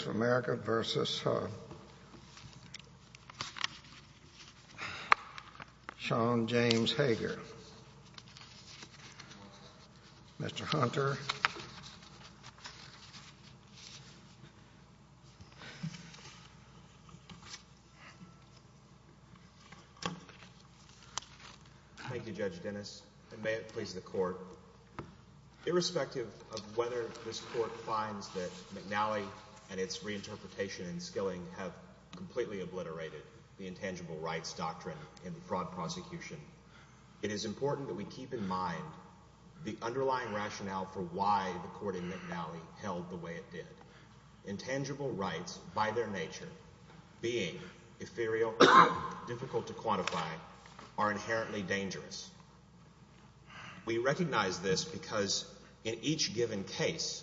v. Sean James Hager. Mr. Hunter. Thank you, Judge Dennis, and may it please the Court, irrespective of whether this Court finds that McNally and its reinterpretation in Skilling have completely obliterated the intangible rights doctrine in the fraud prosecution, it is important that we keep in mind the underlying rationale for why the court in McNally held the way it did. Intangible rights, by their nature, being ethereal and difficult to quantify, are inherently dangerous. We recognize this because in each given case,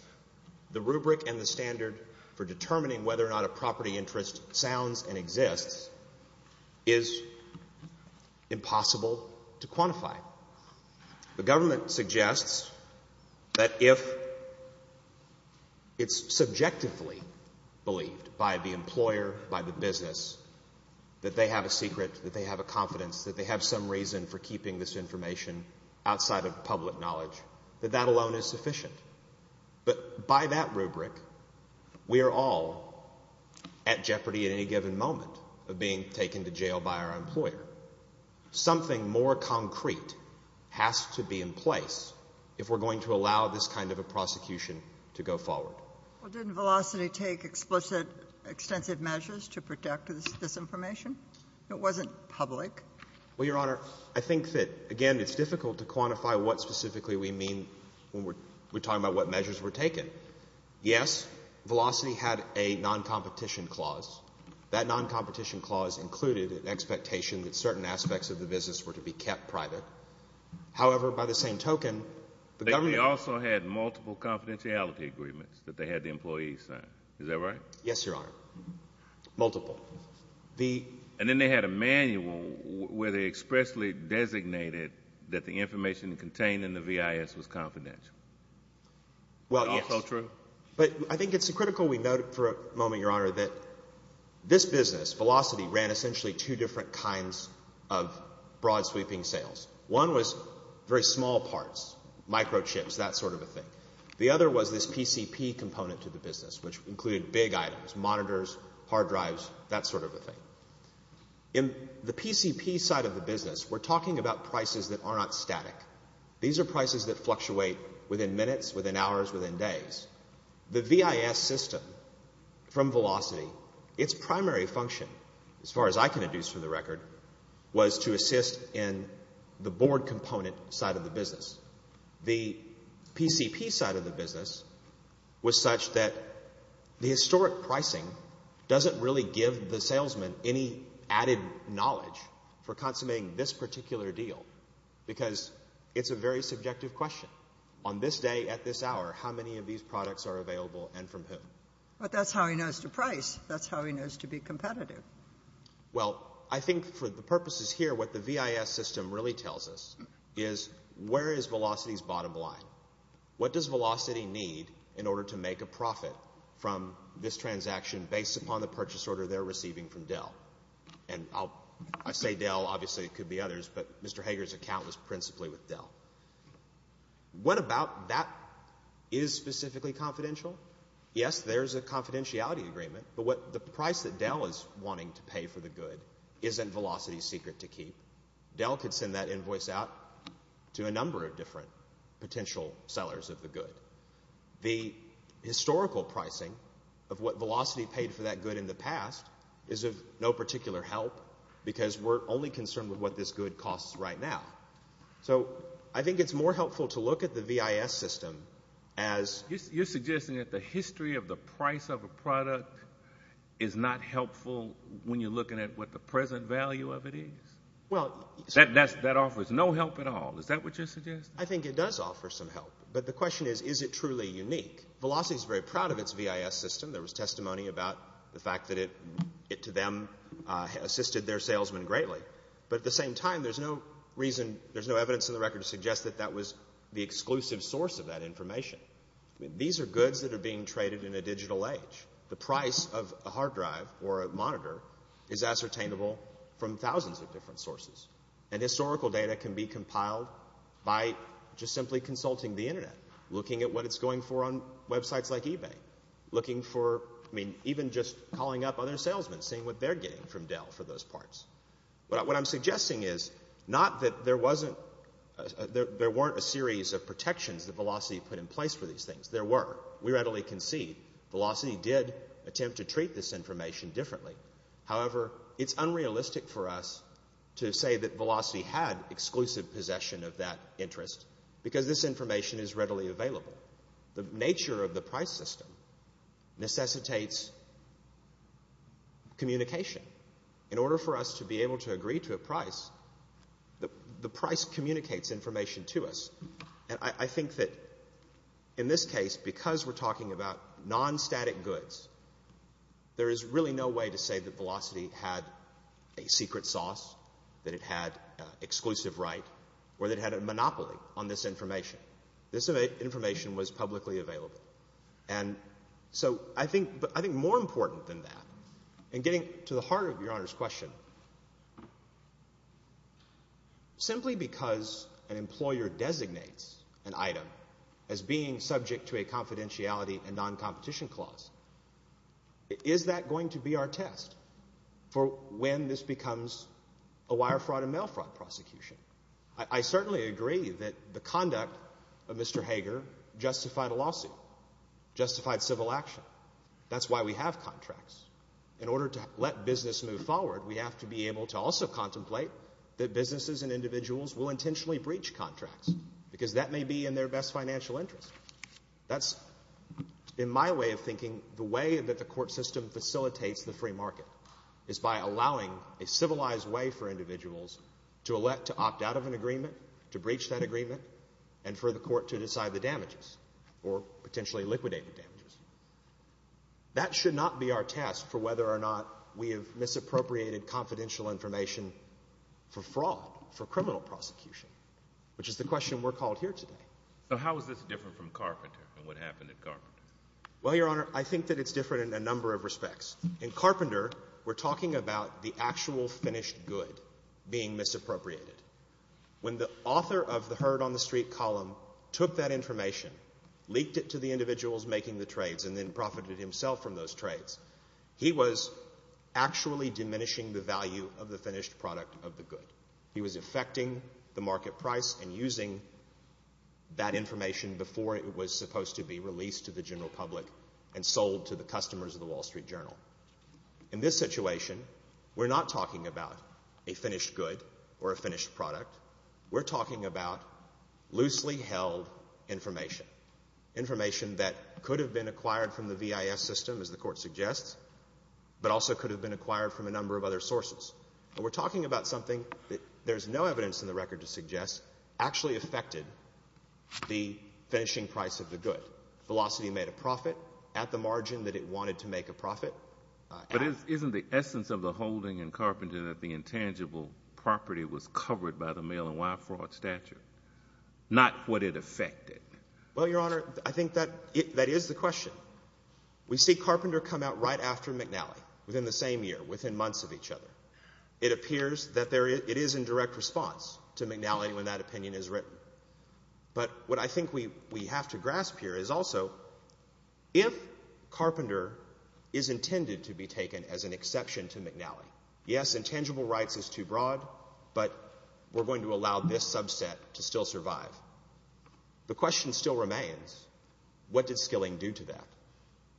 the rubric and the standard for determining whether or not a property interest sounds and exists is impossible to quantify. The government suggests that if it's subjectively believed by the employer, by the business, that they have a secret, that they have a confidence, that they have some reason for keeping this information outside of public knowledge, that that alone is sufficient. But by that rubric, we are all at jeopardy at any given moment of being taken to jail by our employer. Something more concrete has to be in place if we're going to allow this kind of a prosecution to go forward. Well, didn't Velocity take explicit, extensive measures to protect this information? It wasn't public. Well, Your Honor, I think that, again, it's difficult to quantify what specifically we mean when we're talking about what measures were taken. Yes, Velocity had a noncompetition clause. That noncompetition clause included an expectation that certain aspects of the business were to be kept private. However, by the same token, the government also had multiple confidentiality agreements that they had the employees sign. Is that right? Yes, Your Honor. Multiple. And then they had a manual where they expressly designated that the information contained in the VIS was confidential. Well, yes. Also true. But I think it's critical we note for a moment, Your Honor, that this business, Velocity, ran essentially two different kinds of broad sweeping sales. One was very small parts, microchips, that sort of a thing. The other was this PCP component to the business, which included big items, monitors, hard drives, that sort of a thing. In the PCP side of the business, we're talking about prices that are not static. These are prices that fluctuate within minutes, within hours, within days. The VIS system from Velocity, its primary function, as far as I can deduce from the record, was to assist in the board component side of the business. The PCP side of the business was such that the historic pricing doesn't really give the salesman any added knowledge for consummating this particular deal because it's a very subjective question. On this day, at this hour, how many of these products are available and from whom? But that's how he knows to price. That's how he knows to be competitive. Well, I think for the purposes here, what the VIS system really tells us is where is Velocity's bottom line? What does Velocity need in order to make a profit from this transaction based upon the purchase order they're receiving from Dell? And I say Dell, obviously it could be others, but Mr. Hager's account was principally with Dell. What about that is specifically confidential? Yes, there's a confidentiality agreement, but the price that Dell is wanting to pay for the good isn't Velocity's secret to keep. Dell could send that invoice out to a number of different potential sellers of the good. The historical pricing of what Velocity paid for that good in the past is of no particular help because we're only concerned with what this good costs right now. So I think it's more helpful to look at the VIS system as— You're suggesting that the history of the price of a product is not helpful when you're looking at what the present value of it is? Well— That offers no help at all. Is that what you're suggesting? I think it does offer some help, but the question is, is it truly unique? Velocity's very proud of its VIS system. There was testimony about the fact that it, to them, assisted their salesmen greatly. But at the same time, there's no reason, there's no evidence in the record to suggest that that was the exclusive source of that information. These are goods that are being traded in a digital age. The price of a hard drive or a monitor is ascertainable from thousands of different sources. And historical data can be compiled by just simply consulting the Internet, looking at what it's going for on websites like eBay, looking for— I mean, even just calling up other salesmen, seeing what they're getting from Dell for those parts. What I'm suggesting is not that there wasn't— there weren't a series of protections that Velocity put in place for these things. There were. We readily concede Velocity did attempt to treat this information differently. However, it's unrealistic for us to say that Velocity had exclusive possession of that interest because this information is readily available. The nature of the price system necessitates communication. In order for us to be able to agree to a price, the price communicates information to us. And I think that in this case, because we're talking about non-static goods, there is really no way to say that Velocity had a secret sauce, that it had exclusive right, or that it had a monopoly on this information. This information was publicly available. And so I think more important than that, and getting to the heart of Your Honor's question, simply because an employer designates an item as being subject to a confidentiality and non-competition clause, is that going to be our test for when this becomes a wire fraud and mail fraud prosecution? I certainly agree that the conduct of Mr. Hager justified a lawsuit, justified civil action. That's why we have contracts. In order to let business move forward, we have to be able to also contemplate that businesses and individuals will intentionally breach contracts because that may be in their best financial interest. That's, in my way of thinking, the way that the court system facilitates the free market, is by allowing a civilized way for individuals to elect to opt out of an agreement, to breach that agreement, and for the court to decide the damages or potentially liquidate the damages. That should not be our test for whether or not we have misappropriated confidential information for fraud, for criminal prosecution, which is the question we're called here today. So how is this different from Carpenter and what happened at Carpenter? Well, Your Honor, I think that it's different in a number of respects. In Carpenter, we're talking about the actual finished good being misappropriated. When the author of the Heard on the Street column took that information, leaked it to the individuals making the trades, and then profited himself from those trades, he was actually diminishing the value of the finished product of the good. He was affecting the market price and using that information before it was supposed to be released to the general public and sold to the customers of the Wall Street Journal. In this situation, we're not talking about a finished good or a finished product. We're talking about loosely held information, information that could have been acquired from the VIS system, as the Court suggests, but also could have been acquired from a number of other sources. We're talking about something that there's no evidence in the record to suggest actually affected the finishing price of the good. Velocity made a profit at the margin that it wanted to make a profit. But isn't the essence of the holding in Carpenter that the intangible property was covered by the mail-and-wire fraud statute, not what it affected? Well, Your Honor, I think that is the question. We see Carpenter come out right after McNally, within the same year, within months of each other. It appears that it is in direct response to McNally when that opinion is written. But what I think we have to grasp here is also, if Carpenter is intended to be taken as an exception to McNally, yes, intangible rights is too broad, but we're going to allow this subset to still survive. The question still remains, what did Skilling do to that?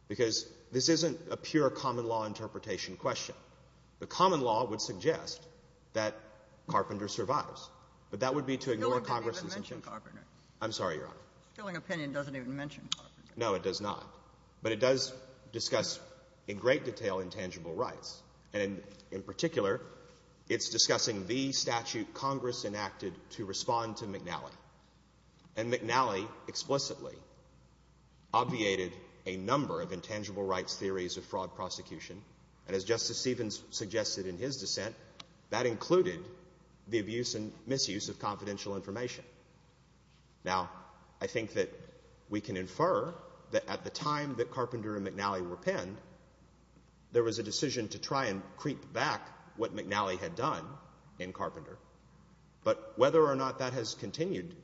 Because this isn't a pure common law interpretation question. The common law would suggest that Carpenter survives. But that would be to ignore Congress's intent. Skilling didn't even mention Carpenter. I'm sorry, Your Honor. Skilling's opinion doesn't even mention Carpenter. No, it does not. But it does discuss in great detail intangible rights. And in particular, it's discussing the statute Congress enacted to respond to McNally. And McNally explicitly obviated a number of intangible rights theories of fraud prosecution. And as Justice Stevens suggested in his dissent, that included the abuse and misuse of confidential information. Now, I think that we can infer that at the time that Carpenter and McNally were penned, there was a decision to try and creep back what McNally had done in Carpenter. But whether or not that has continued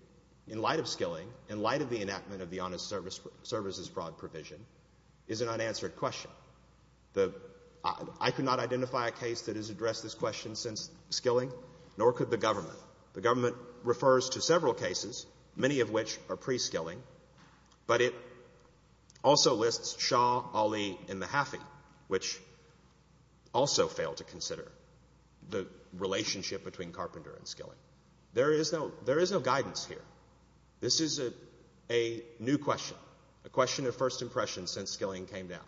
in light of Skilling, in light of the enactment of the Honest Services Broad provision, is an unanswered question. I could not identify a case that has addressed this question since Skilling, nor could the government. The government refers to several cases, many of which are pre-Skilling, but it also lists Shaw, Ali, and Mahaffey, which also fail to consider the relationship between Carpenter and Skilling. There is no guidance here. This is a new question, a question of first impression since Skilling came down.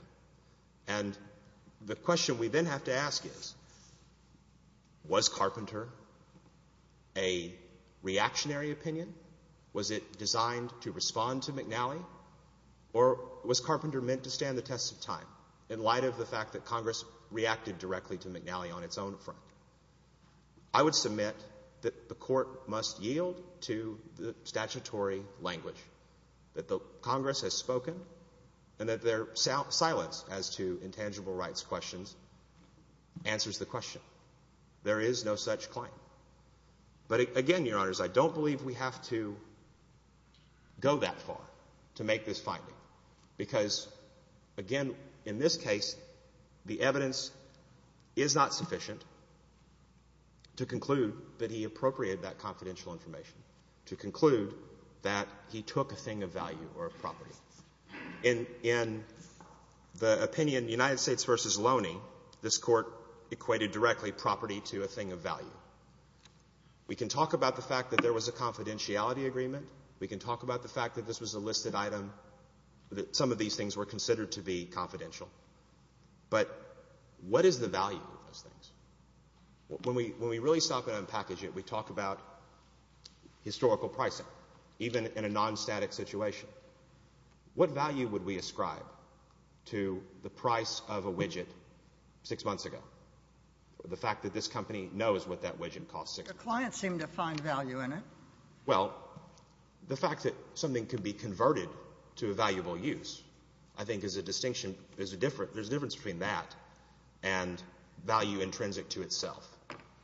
And the question we then have to ask is, was Carpenter a reactionary opinion? Was it designed to respond to McNally, or was Carpenter meant to stand the test of time in light of the fact that Congress reacted directly to McNally on its own front? I would submit that the Court must yield to the statutory language that Congress has spoken and that their silence as to intangible rights questions answers the question. There is no such claim. But again, Your Honors, I don't believe we have to go that far to make this finding, because, again, in this case, the evidence is not sufficient to conclude that he appropriated that confidential information, to conclude that he took a thing of value or a property. In the opinion United States v. Loney, this Court equated directly property to a thing of value. We can talk about the fact that there was a confidentiality agreement. We can talk about the fact that this was a listed item, that some of these things were considered to be confidential. But what is the value of those things? When we really stop and unpackage it, we talk about historical pricing, even in a non-static situation. What value would we ascribe to the price of a widget six months ago, the fact that this company knows what that widget costs six months ago? Your clients seem to find value in it. Well, the fact that something could be converted to a valuable use, I think, is a distinction. There's a difference. There's a difference between that and value intrinsic to itself.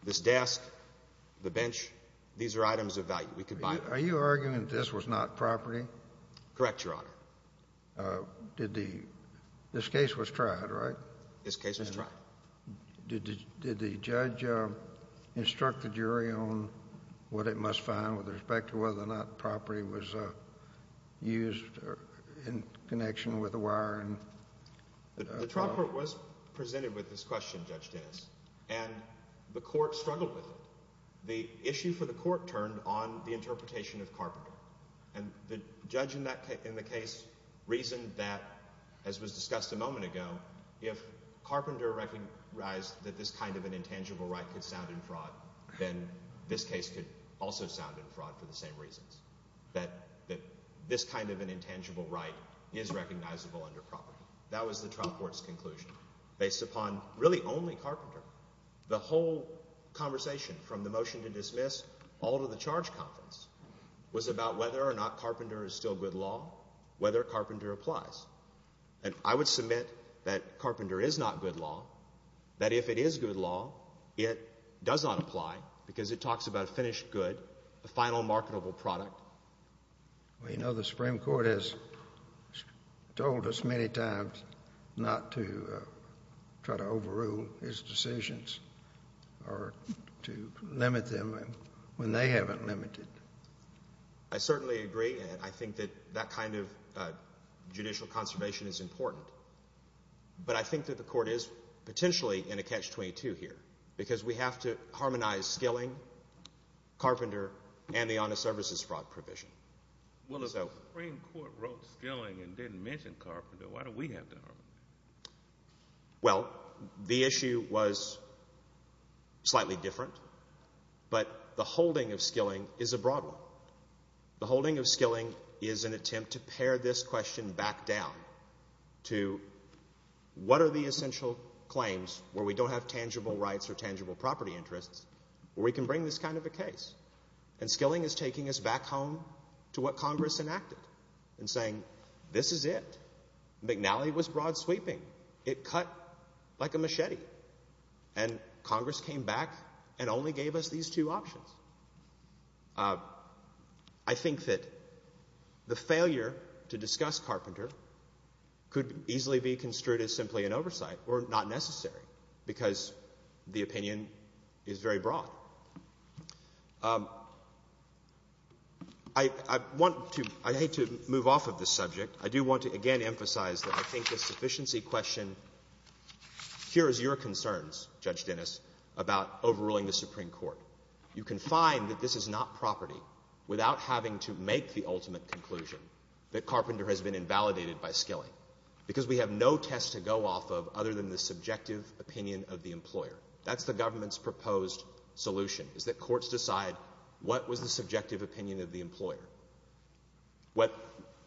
This desk, the bench, these are items of value. We could buy them. Are you arguing that this was not property? Correct, Your Honor. Did the — this case was tried, right? This case was tried. Did the judge instruct the jury on what it must find with respect to whether or not the property was used in connection with the wiring? The trial court was presented with this question, Judge Dennis, and the court struggled with it. The issue for the court turned on the interpretation of Carpenter. And the judge in the case reasoned that, as was discussed a moment ago, if Carpenter recognized that this kind of an intangible right could sound in fraud, then this case could also sound in fraud for the same reasons, that this kind of an intangible right is recognizable under property. That was the trial court's conclusion based upon really only Carpenter. The whole conversation from the motion to dismiss all to the charge conference was about whether or not Carpenter is still good law, whether Carpenter applies. And I would submit that Carpenter is not good law, that if it is good law, it does not apply because it talks about finished good, the final marketable product. Well, you know, the Supreme Court has told us many times not to try to overrule his decisions or to limit them when they haven't limited. I certainly agree, and I think that that kind of judicial conservation is important. But I think that the court is potentially in a catch-22 here because we have to harmonize Skilling, Carpenter, and the honest services fraud provision. Well, the Supreme Court wrote Skilling and didn't mention Carpenter. Why do we have to harmonize? Well, the issue was slightly different. But the holding of Skilling is a broad one. The holding of Skilling is an attempt to pare this question back down to what are the essential claims where we don't have tangible rights or tangible property interests where we can bring this kind of a case. And Skilling is taking us back home to what Congress enacted and saying this is it. McNally was broad sweeping. It cut like a machete. And Congress came back and only gave us these two options. I think that the failure to discuss Carpenter could easily be construed as simply an oversight or not necessary because the opinion is very broad. I want to — I hate to move off of this subject. I do want to again emphasize that I think the sufficiency question cures your concerns, Judge Dennis, about overruling the Supreme Court. You can find that this is not property without having to make the ultimate conclusion that Carpenter has been invalidated by Skilling because we have no test to go off of other than the subjective opinion of the employer. That's the government's proposed solution is that courts decide what was the subjective opinion of the employer,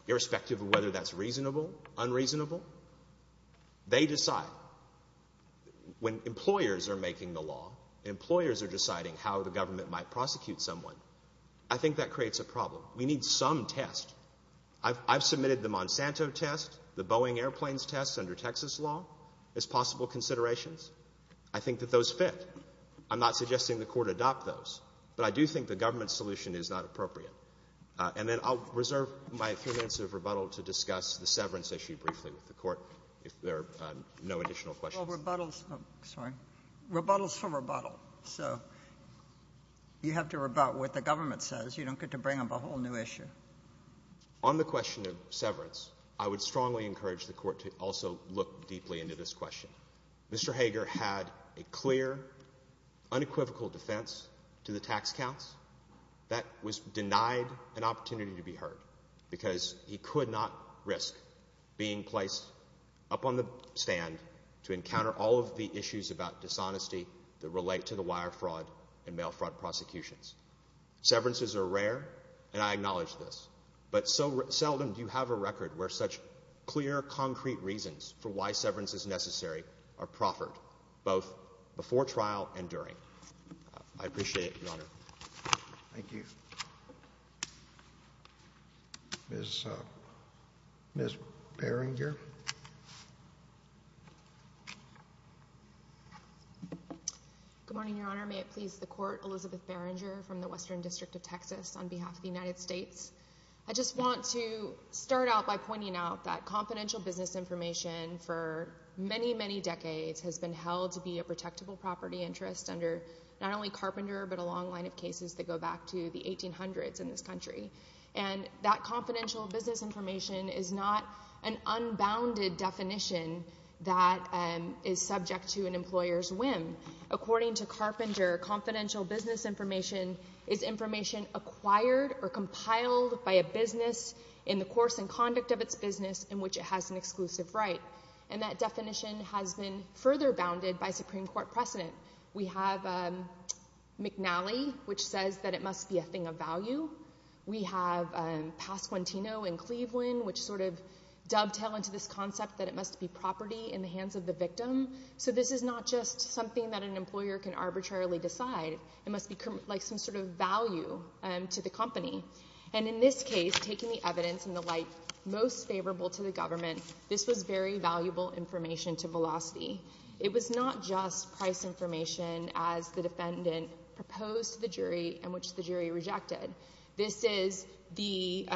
irrespective of whether that's reasonable, unreasonable. They decide. When employers are making the law, employers are deciding how the government might prosecute someone. I think that creates a problem. We need some test. I've submitted the Monsanto test, the Boeing airplanes test under Texas law as possible considerations. I think that those fit. I'm not suggesting the court adopt those, but I do think the government's solution is not appropriate. And then I'll reserve my three minutes of rebuttal to discuss the severance issue briefly with the court, if there are no additional questions. Well, rebuttal is for rebuttal. So you have to rebut what the government says. You don't get to bring up a whole new issue. On the question of severance, I would strongly encourage the court to also look deeply into this question. Mr. Hager had a clear, unequivocal defense to the tax counts. That was denied an opportunity to be heard because he could not risk being placed up on the stand to encounter all of the issues about dishonesty that relate to the wire fraud and mail fraud prosecutions. Severances are rare, and I acknowledge this. But so seldom do you have a record where such clear, concrete reasons for why severance is necessary are proffered, both before trial and during. I appreciate it, Your Honor. Thank you. Ms. Berringer. Good morning, Your Honor. May it please the Court, Elizabeth Berringer from the Western District of Texas on behalf of the United States. I just want to start out by pointing out that confidential business information for many, many decades has been held to be a protectable property interest under not only Carpenter but a long line of cases that go back to the 1800s in this country. And that confidential business information is not an unbounded definition that is subject to an employer's whim. According to Carpenter, confidential business information is information acquired or compiled by a business in the course and conduct of its business in which it has an exclusive right. And that definition has been further bounded by Supreme Court precedent. We have McNally, which says that it must be a thing of value. We have Pasquantino in Cleveland, which sort of dovetail into this concept that it must be property in the hands of the victim. So this is not just something that an employer can arbitrarily decide. It must be like some sort of value to the company. And in this case, taking the evidence in the light most favorable to the government, this was very valuable information to Velocity. It was not just price information as the defendant proposed to the jury and which the jury rejected. This is the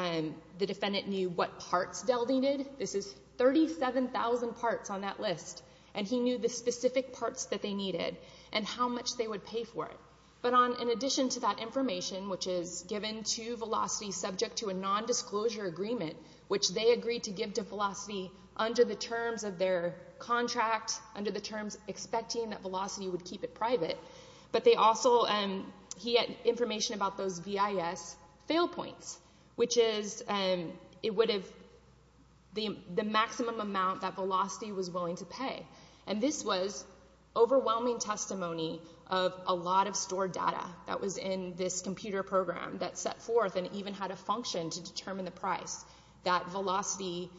defendant knew what parts Dell needed. This is 37,000 parts on that list. And he knew the specific parts that they needed and how much they would pay for it. But in addition to that information, which is given to Velocity subject to a nondisclosure agreement, which they agreed to give to Velocity under the terms of their contract, under the terms expecting that Velocity would keep it private, but they also, he had information about those VIS fail points, which is the maximum amount that Velocity was willing to pay. And this was overwhelming testimony of a lot of stored data that was in this computer program that set forth and even had a function to determine the price, that Velocity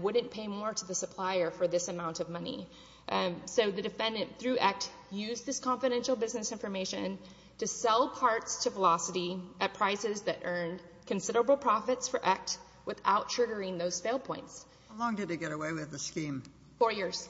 wouldn't pay more to the supplier for this amount of money. So the defendant, through ECT, used this confidential business information to sell parts to Velocity at prices that earned considerable profits for ECT without triggering those fail points. How long did he get away with the scheme? Four years.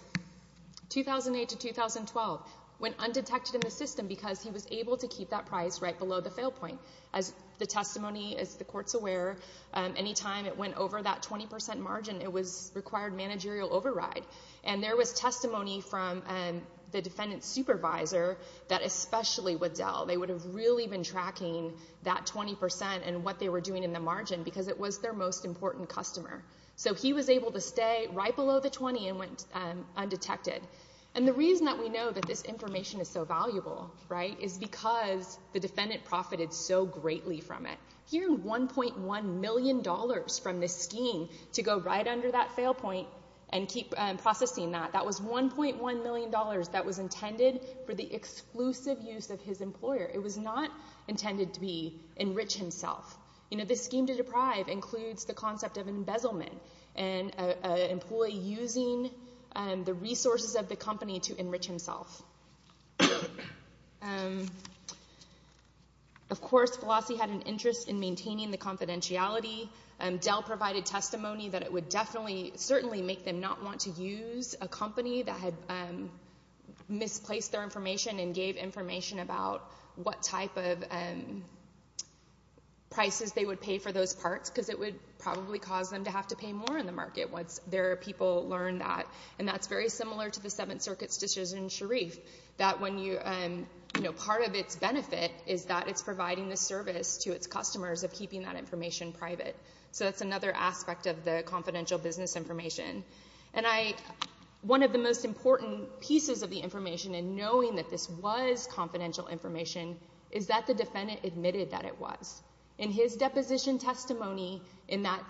2008 to 2012. Went undetected in the system because he was able to keep that price right below the fail point. As the testimony, as the court's aware, any time it went over that 20 percent margin, it required managerial override. And there was testimony from the defendant's supervisor that especially with Dell, they would have really been tracking that 20 percent and what they were doing in the margin because it was their most important customer. So he was able to stay right below the 20 and went undetected. And the reason that we know that this information is so valuable, right, is because the defendant profited so greatly from it. Hearing $1.1 million from this scheme to go right under that fail point and keep processing that, that was $1.1 million that was intended for the exclusive use of his employer. It was not intended to be enrich himself. You know, this scheme to deprive includes the concept of embezzlement and an employee using the resources of the company to enrich himself. Of course, Velassi had an interest in maintaining the confidentiality. Dell provided testimony that it would certainly make them not want to use a company that had misplaced their information and gave information about what type of prices they would pay for those parts because it would probably cause them to have to pay more in the market once their people learned that. And that's very similar to the Seventh Circuit's decision in Sharif, that when you, you know, part of its benefit is that it's providing the service to its customers of keeping that information private. So that's another aspect of the confidential business information. And I, one of the most important pieces of the information in knowing that this was confidential information is that the defendant admitted that it was. In his deposition testimony in that,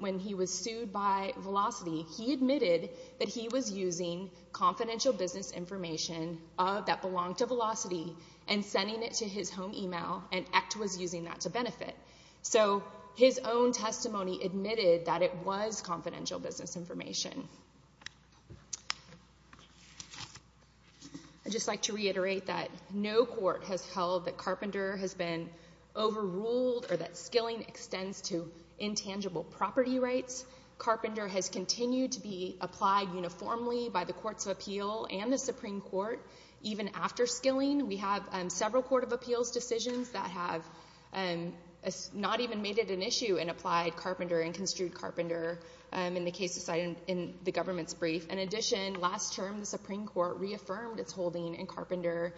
when he was sued by Velassi, he admitted that he was using confidential business information that belonged to Velassi and sending it to his home email and ECT was using that to benefit. So his own testimony admitted that it was confidential business information. I'd just like to reiterate that no court has held that Carpenter has been overruled or that skilling extends to intangible property rights. Carpenter has continued to be applied uniformly by the Courts of Appeal and the Supreme Court. Even after skilling, we have several Court of Appeals decisions that have not even made it an issue and applied Carpenter and construed Carpenter in the case decided in the government's brief. In addition, last term, the Supreme Court reaffirmed its holding in Carpenter,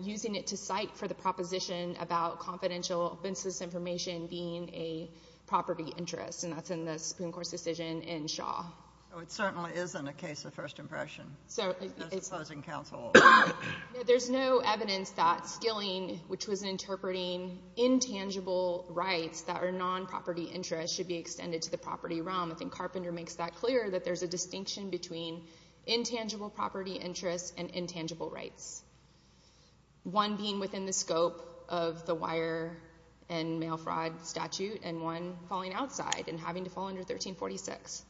using it to cite for the proposition about confidential business information being a property interest. And that's in the Supreme Court's decision in Shaw. Well, it certainly isn't a case of first impression. There's no evidence that skilling, which was interpreting intangible rights that are non-property interests, should be extended to the property realm. I think Carpenter makes that clear, that there's a distinction between intangible property interests and intangible rights, one being within the scope of the wire and mail fraud statute and one falling outside and having to fall under 1346.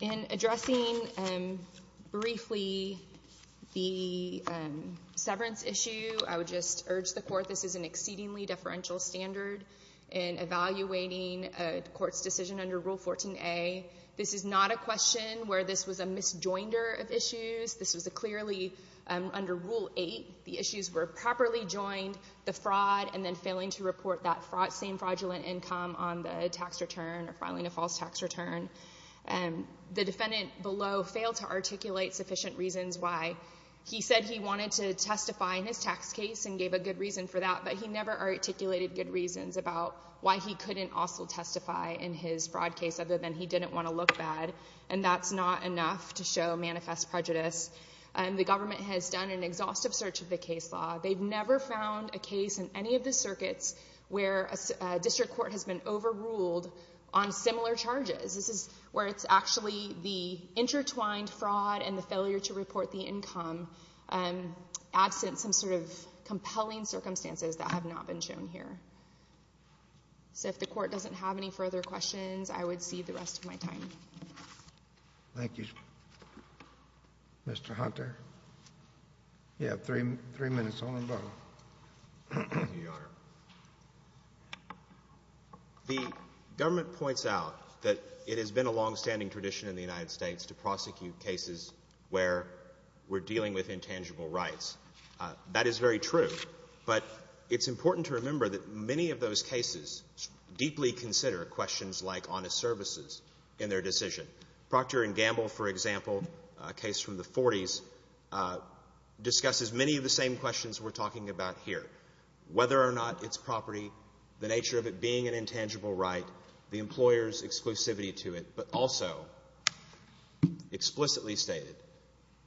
In addressing briefly the severance issue, I would just urge the Court, this is an exceedingly deferential standard in evaluating a court's decision under Rule 14a. This is not a question where this was a misjoinder of issues. This was clearly under Rule 8. The issues were properly joined, the fraud and then failing to report that same fraudulent income on the tax return or filing a false tax return. The defendant below failed to articulate sufficient reasons why. He said he wanted to testify in his tax case and gave a good reason for that, but he never articulated good reasons about why he couldn't also testify in his fraud case other than he didn't want to look bad. And that's not enough to show manifest prejudice. The government has done an exhaustive search of the case law. They've never found a case in any of the circuits where a district court has been overruled on similar charges. This is where it's actually the intertwined fraud and the failure to report the income absent some sort of compelling circumstances that have not been shown here. So if the Court doesn't have any further questions, I would cede the rest of my time. Thank you, Mr. Hunter. You have three minutes, Your Honor. Thank you, Your Honor. The government points out that it has been a longstanding tradition in the United States to prosecute cases where we're dealing with intangible rights. That is very true, but it's important to remember that many of those cases deeply consider questions like honest services in their decision. Procter & Gamble, for example, a case from the 40s, discusses many of the same questions we're talking about here, whether or not it's property, the nature of it being an intangible right, the employer's exclusivity to it, but also explicitly stated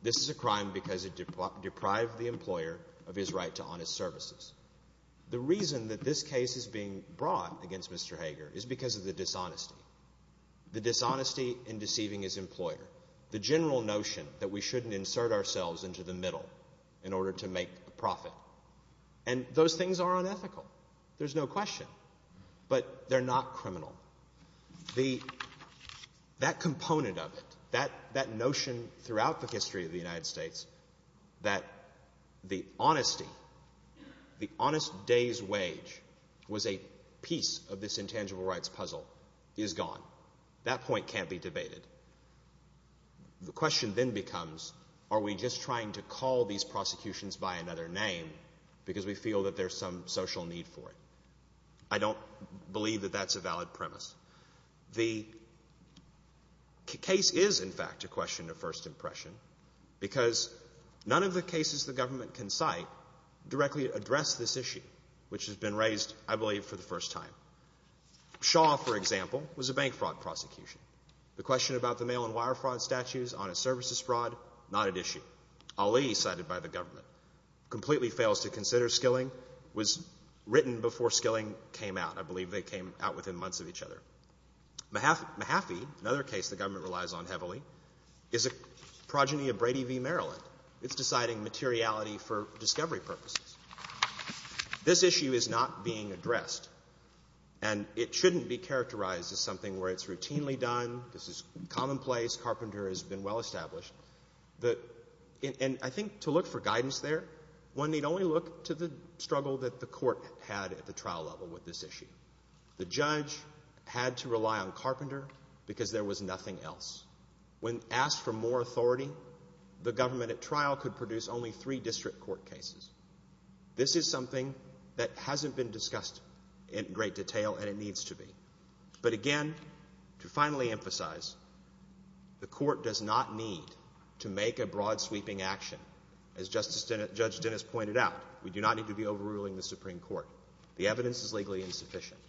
this is a crime because it deprived the employer of his right to honest services. The reason that this case is being brought against Mr. Hager is because of the dishonesty, the dishonesty in deceiving his employer, the general notion that we shouldn't insert ourselves into the middle in order to make a profit. And those things are unethical. There's no question. But they're not criminal. That component of it, that notion throughout the history of the United States that the honesty, the honest day's wage, was a piece of this intangible rights puzzle, is gone. That point can't be debated. The question then becomes, are we just trying to call these prosecutions by another name because we feel that there's some social need for it? I don't believe that that's a valid premise. The case is, in fact, a question of first impression because none of the cases the government can cite directly address this issue, which has been raised, I believe, for the first time. Shaw, for example, was a bank fraud prosecution. The question about the mail and wire fraud statutes, honest services fraud, not at issue. Ali, cited by the government, completely fails to consider Skilling, was written before Skilling came out. I believe they came out within months of each other. Mahaffey, another case the government relies on heavily, is a progeny of Brady v. Maryland. It's deciding materiality for discovery purposes. This issue is not being addressed, and it shouldn't be characterized as something where it's routinely done, this is commonplace, Carpenter has been well-established. And I think to look for guidance there, one need only look to the struggle that the court had at the trial level with this issue. The judge had to rely on Carpenter because there was nothing else. When asked for more authority, the government at trial could produce only three district court cases. This is something that hasn't been discussed in great detail, and it needs to be. But again, to finally emphasize, the court does not need to make a broad-sweeping action. As Judge Dennis pointed out, we do not need to be overruling the Supreme Court. The evidence is legally insufficient.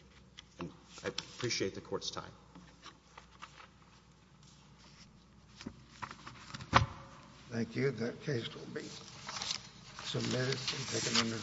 And I appreciate the court's time. Thank you. That case will be submitted and taken under review.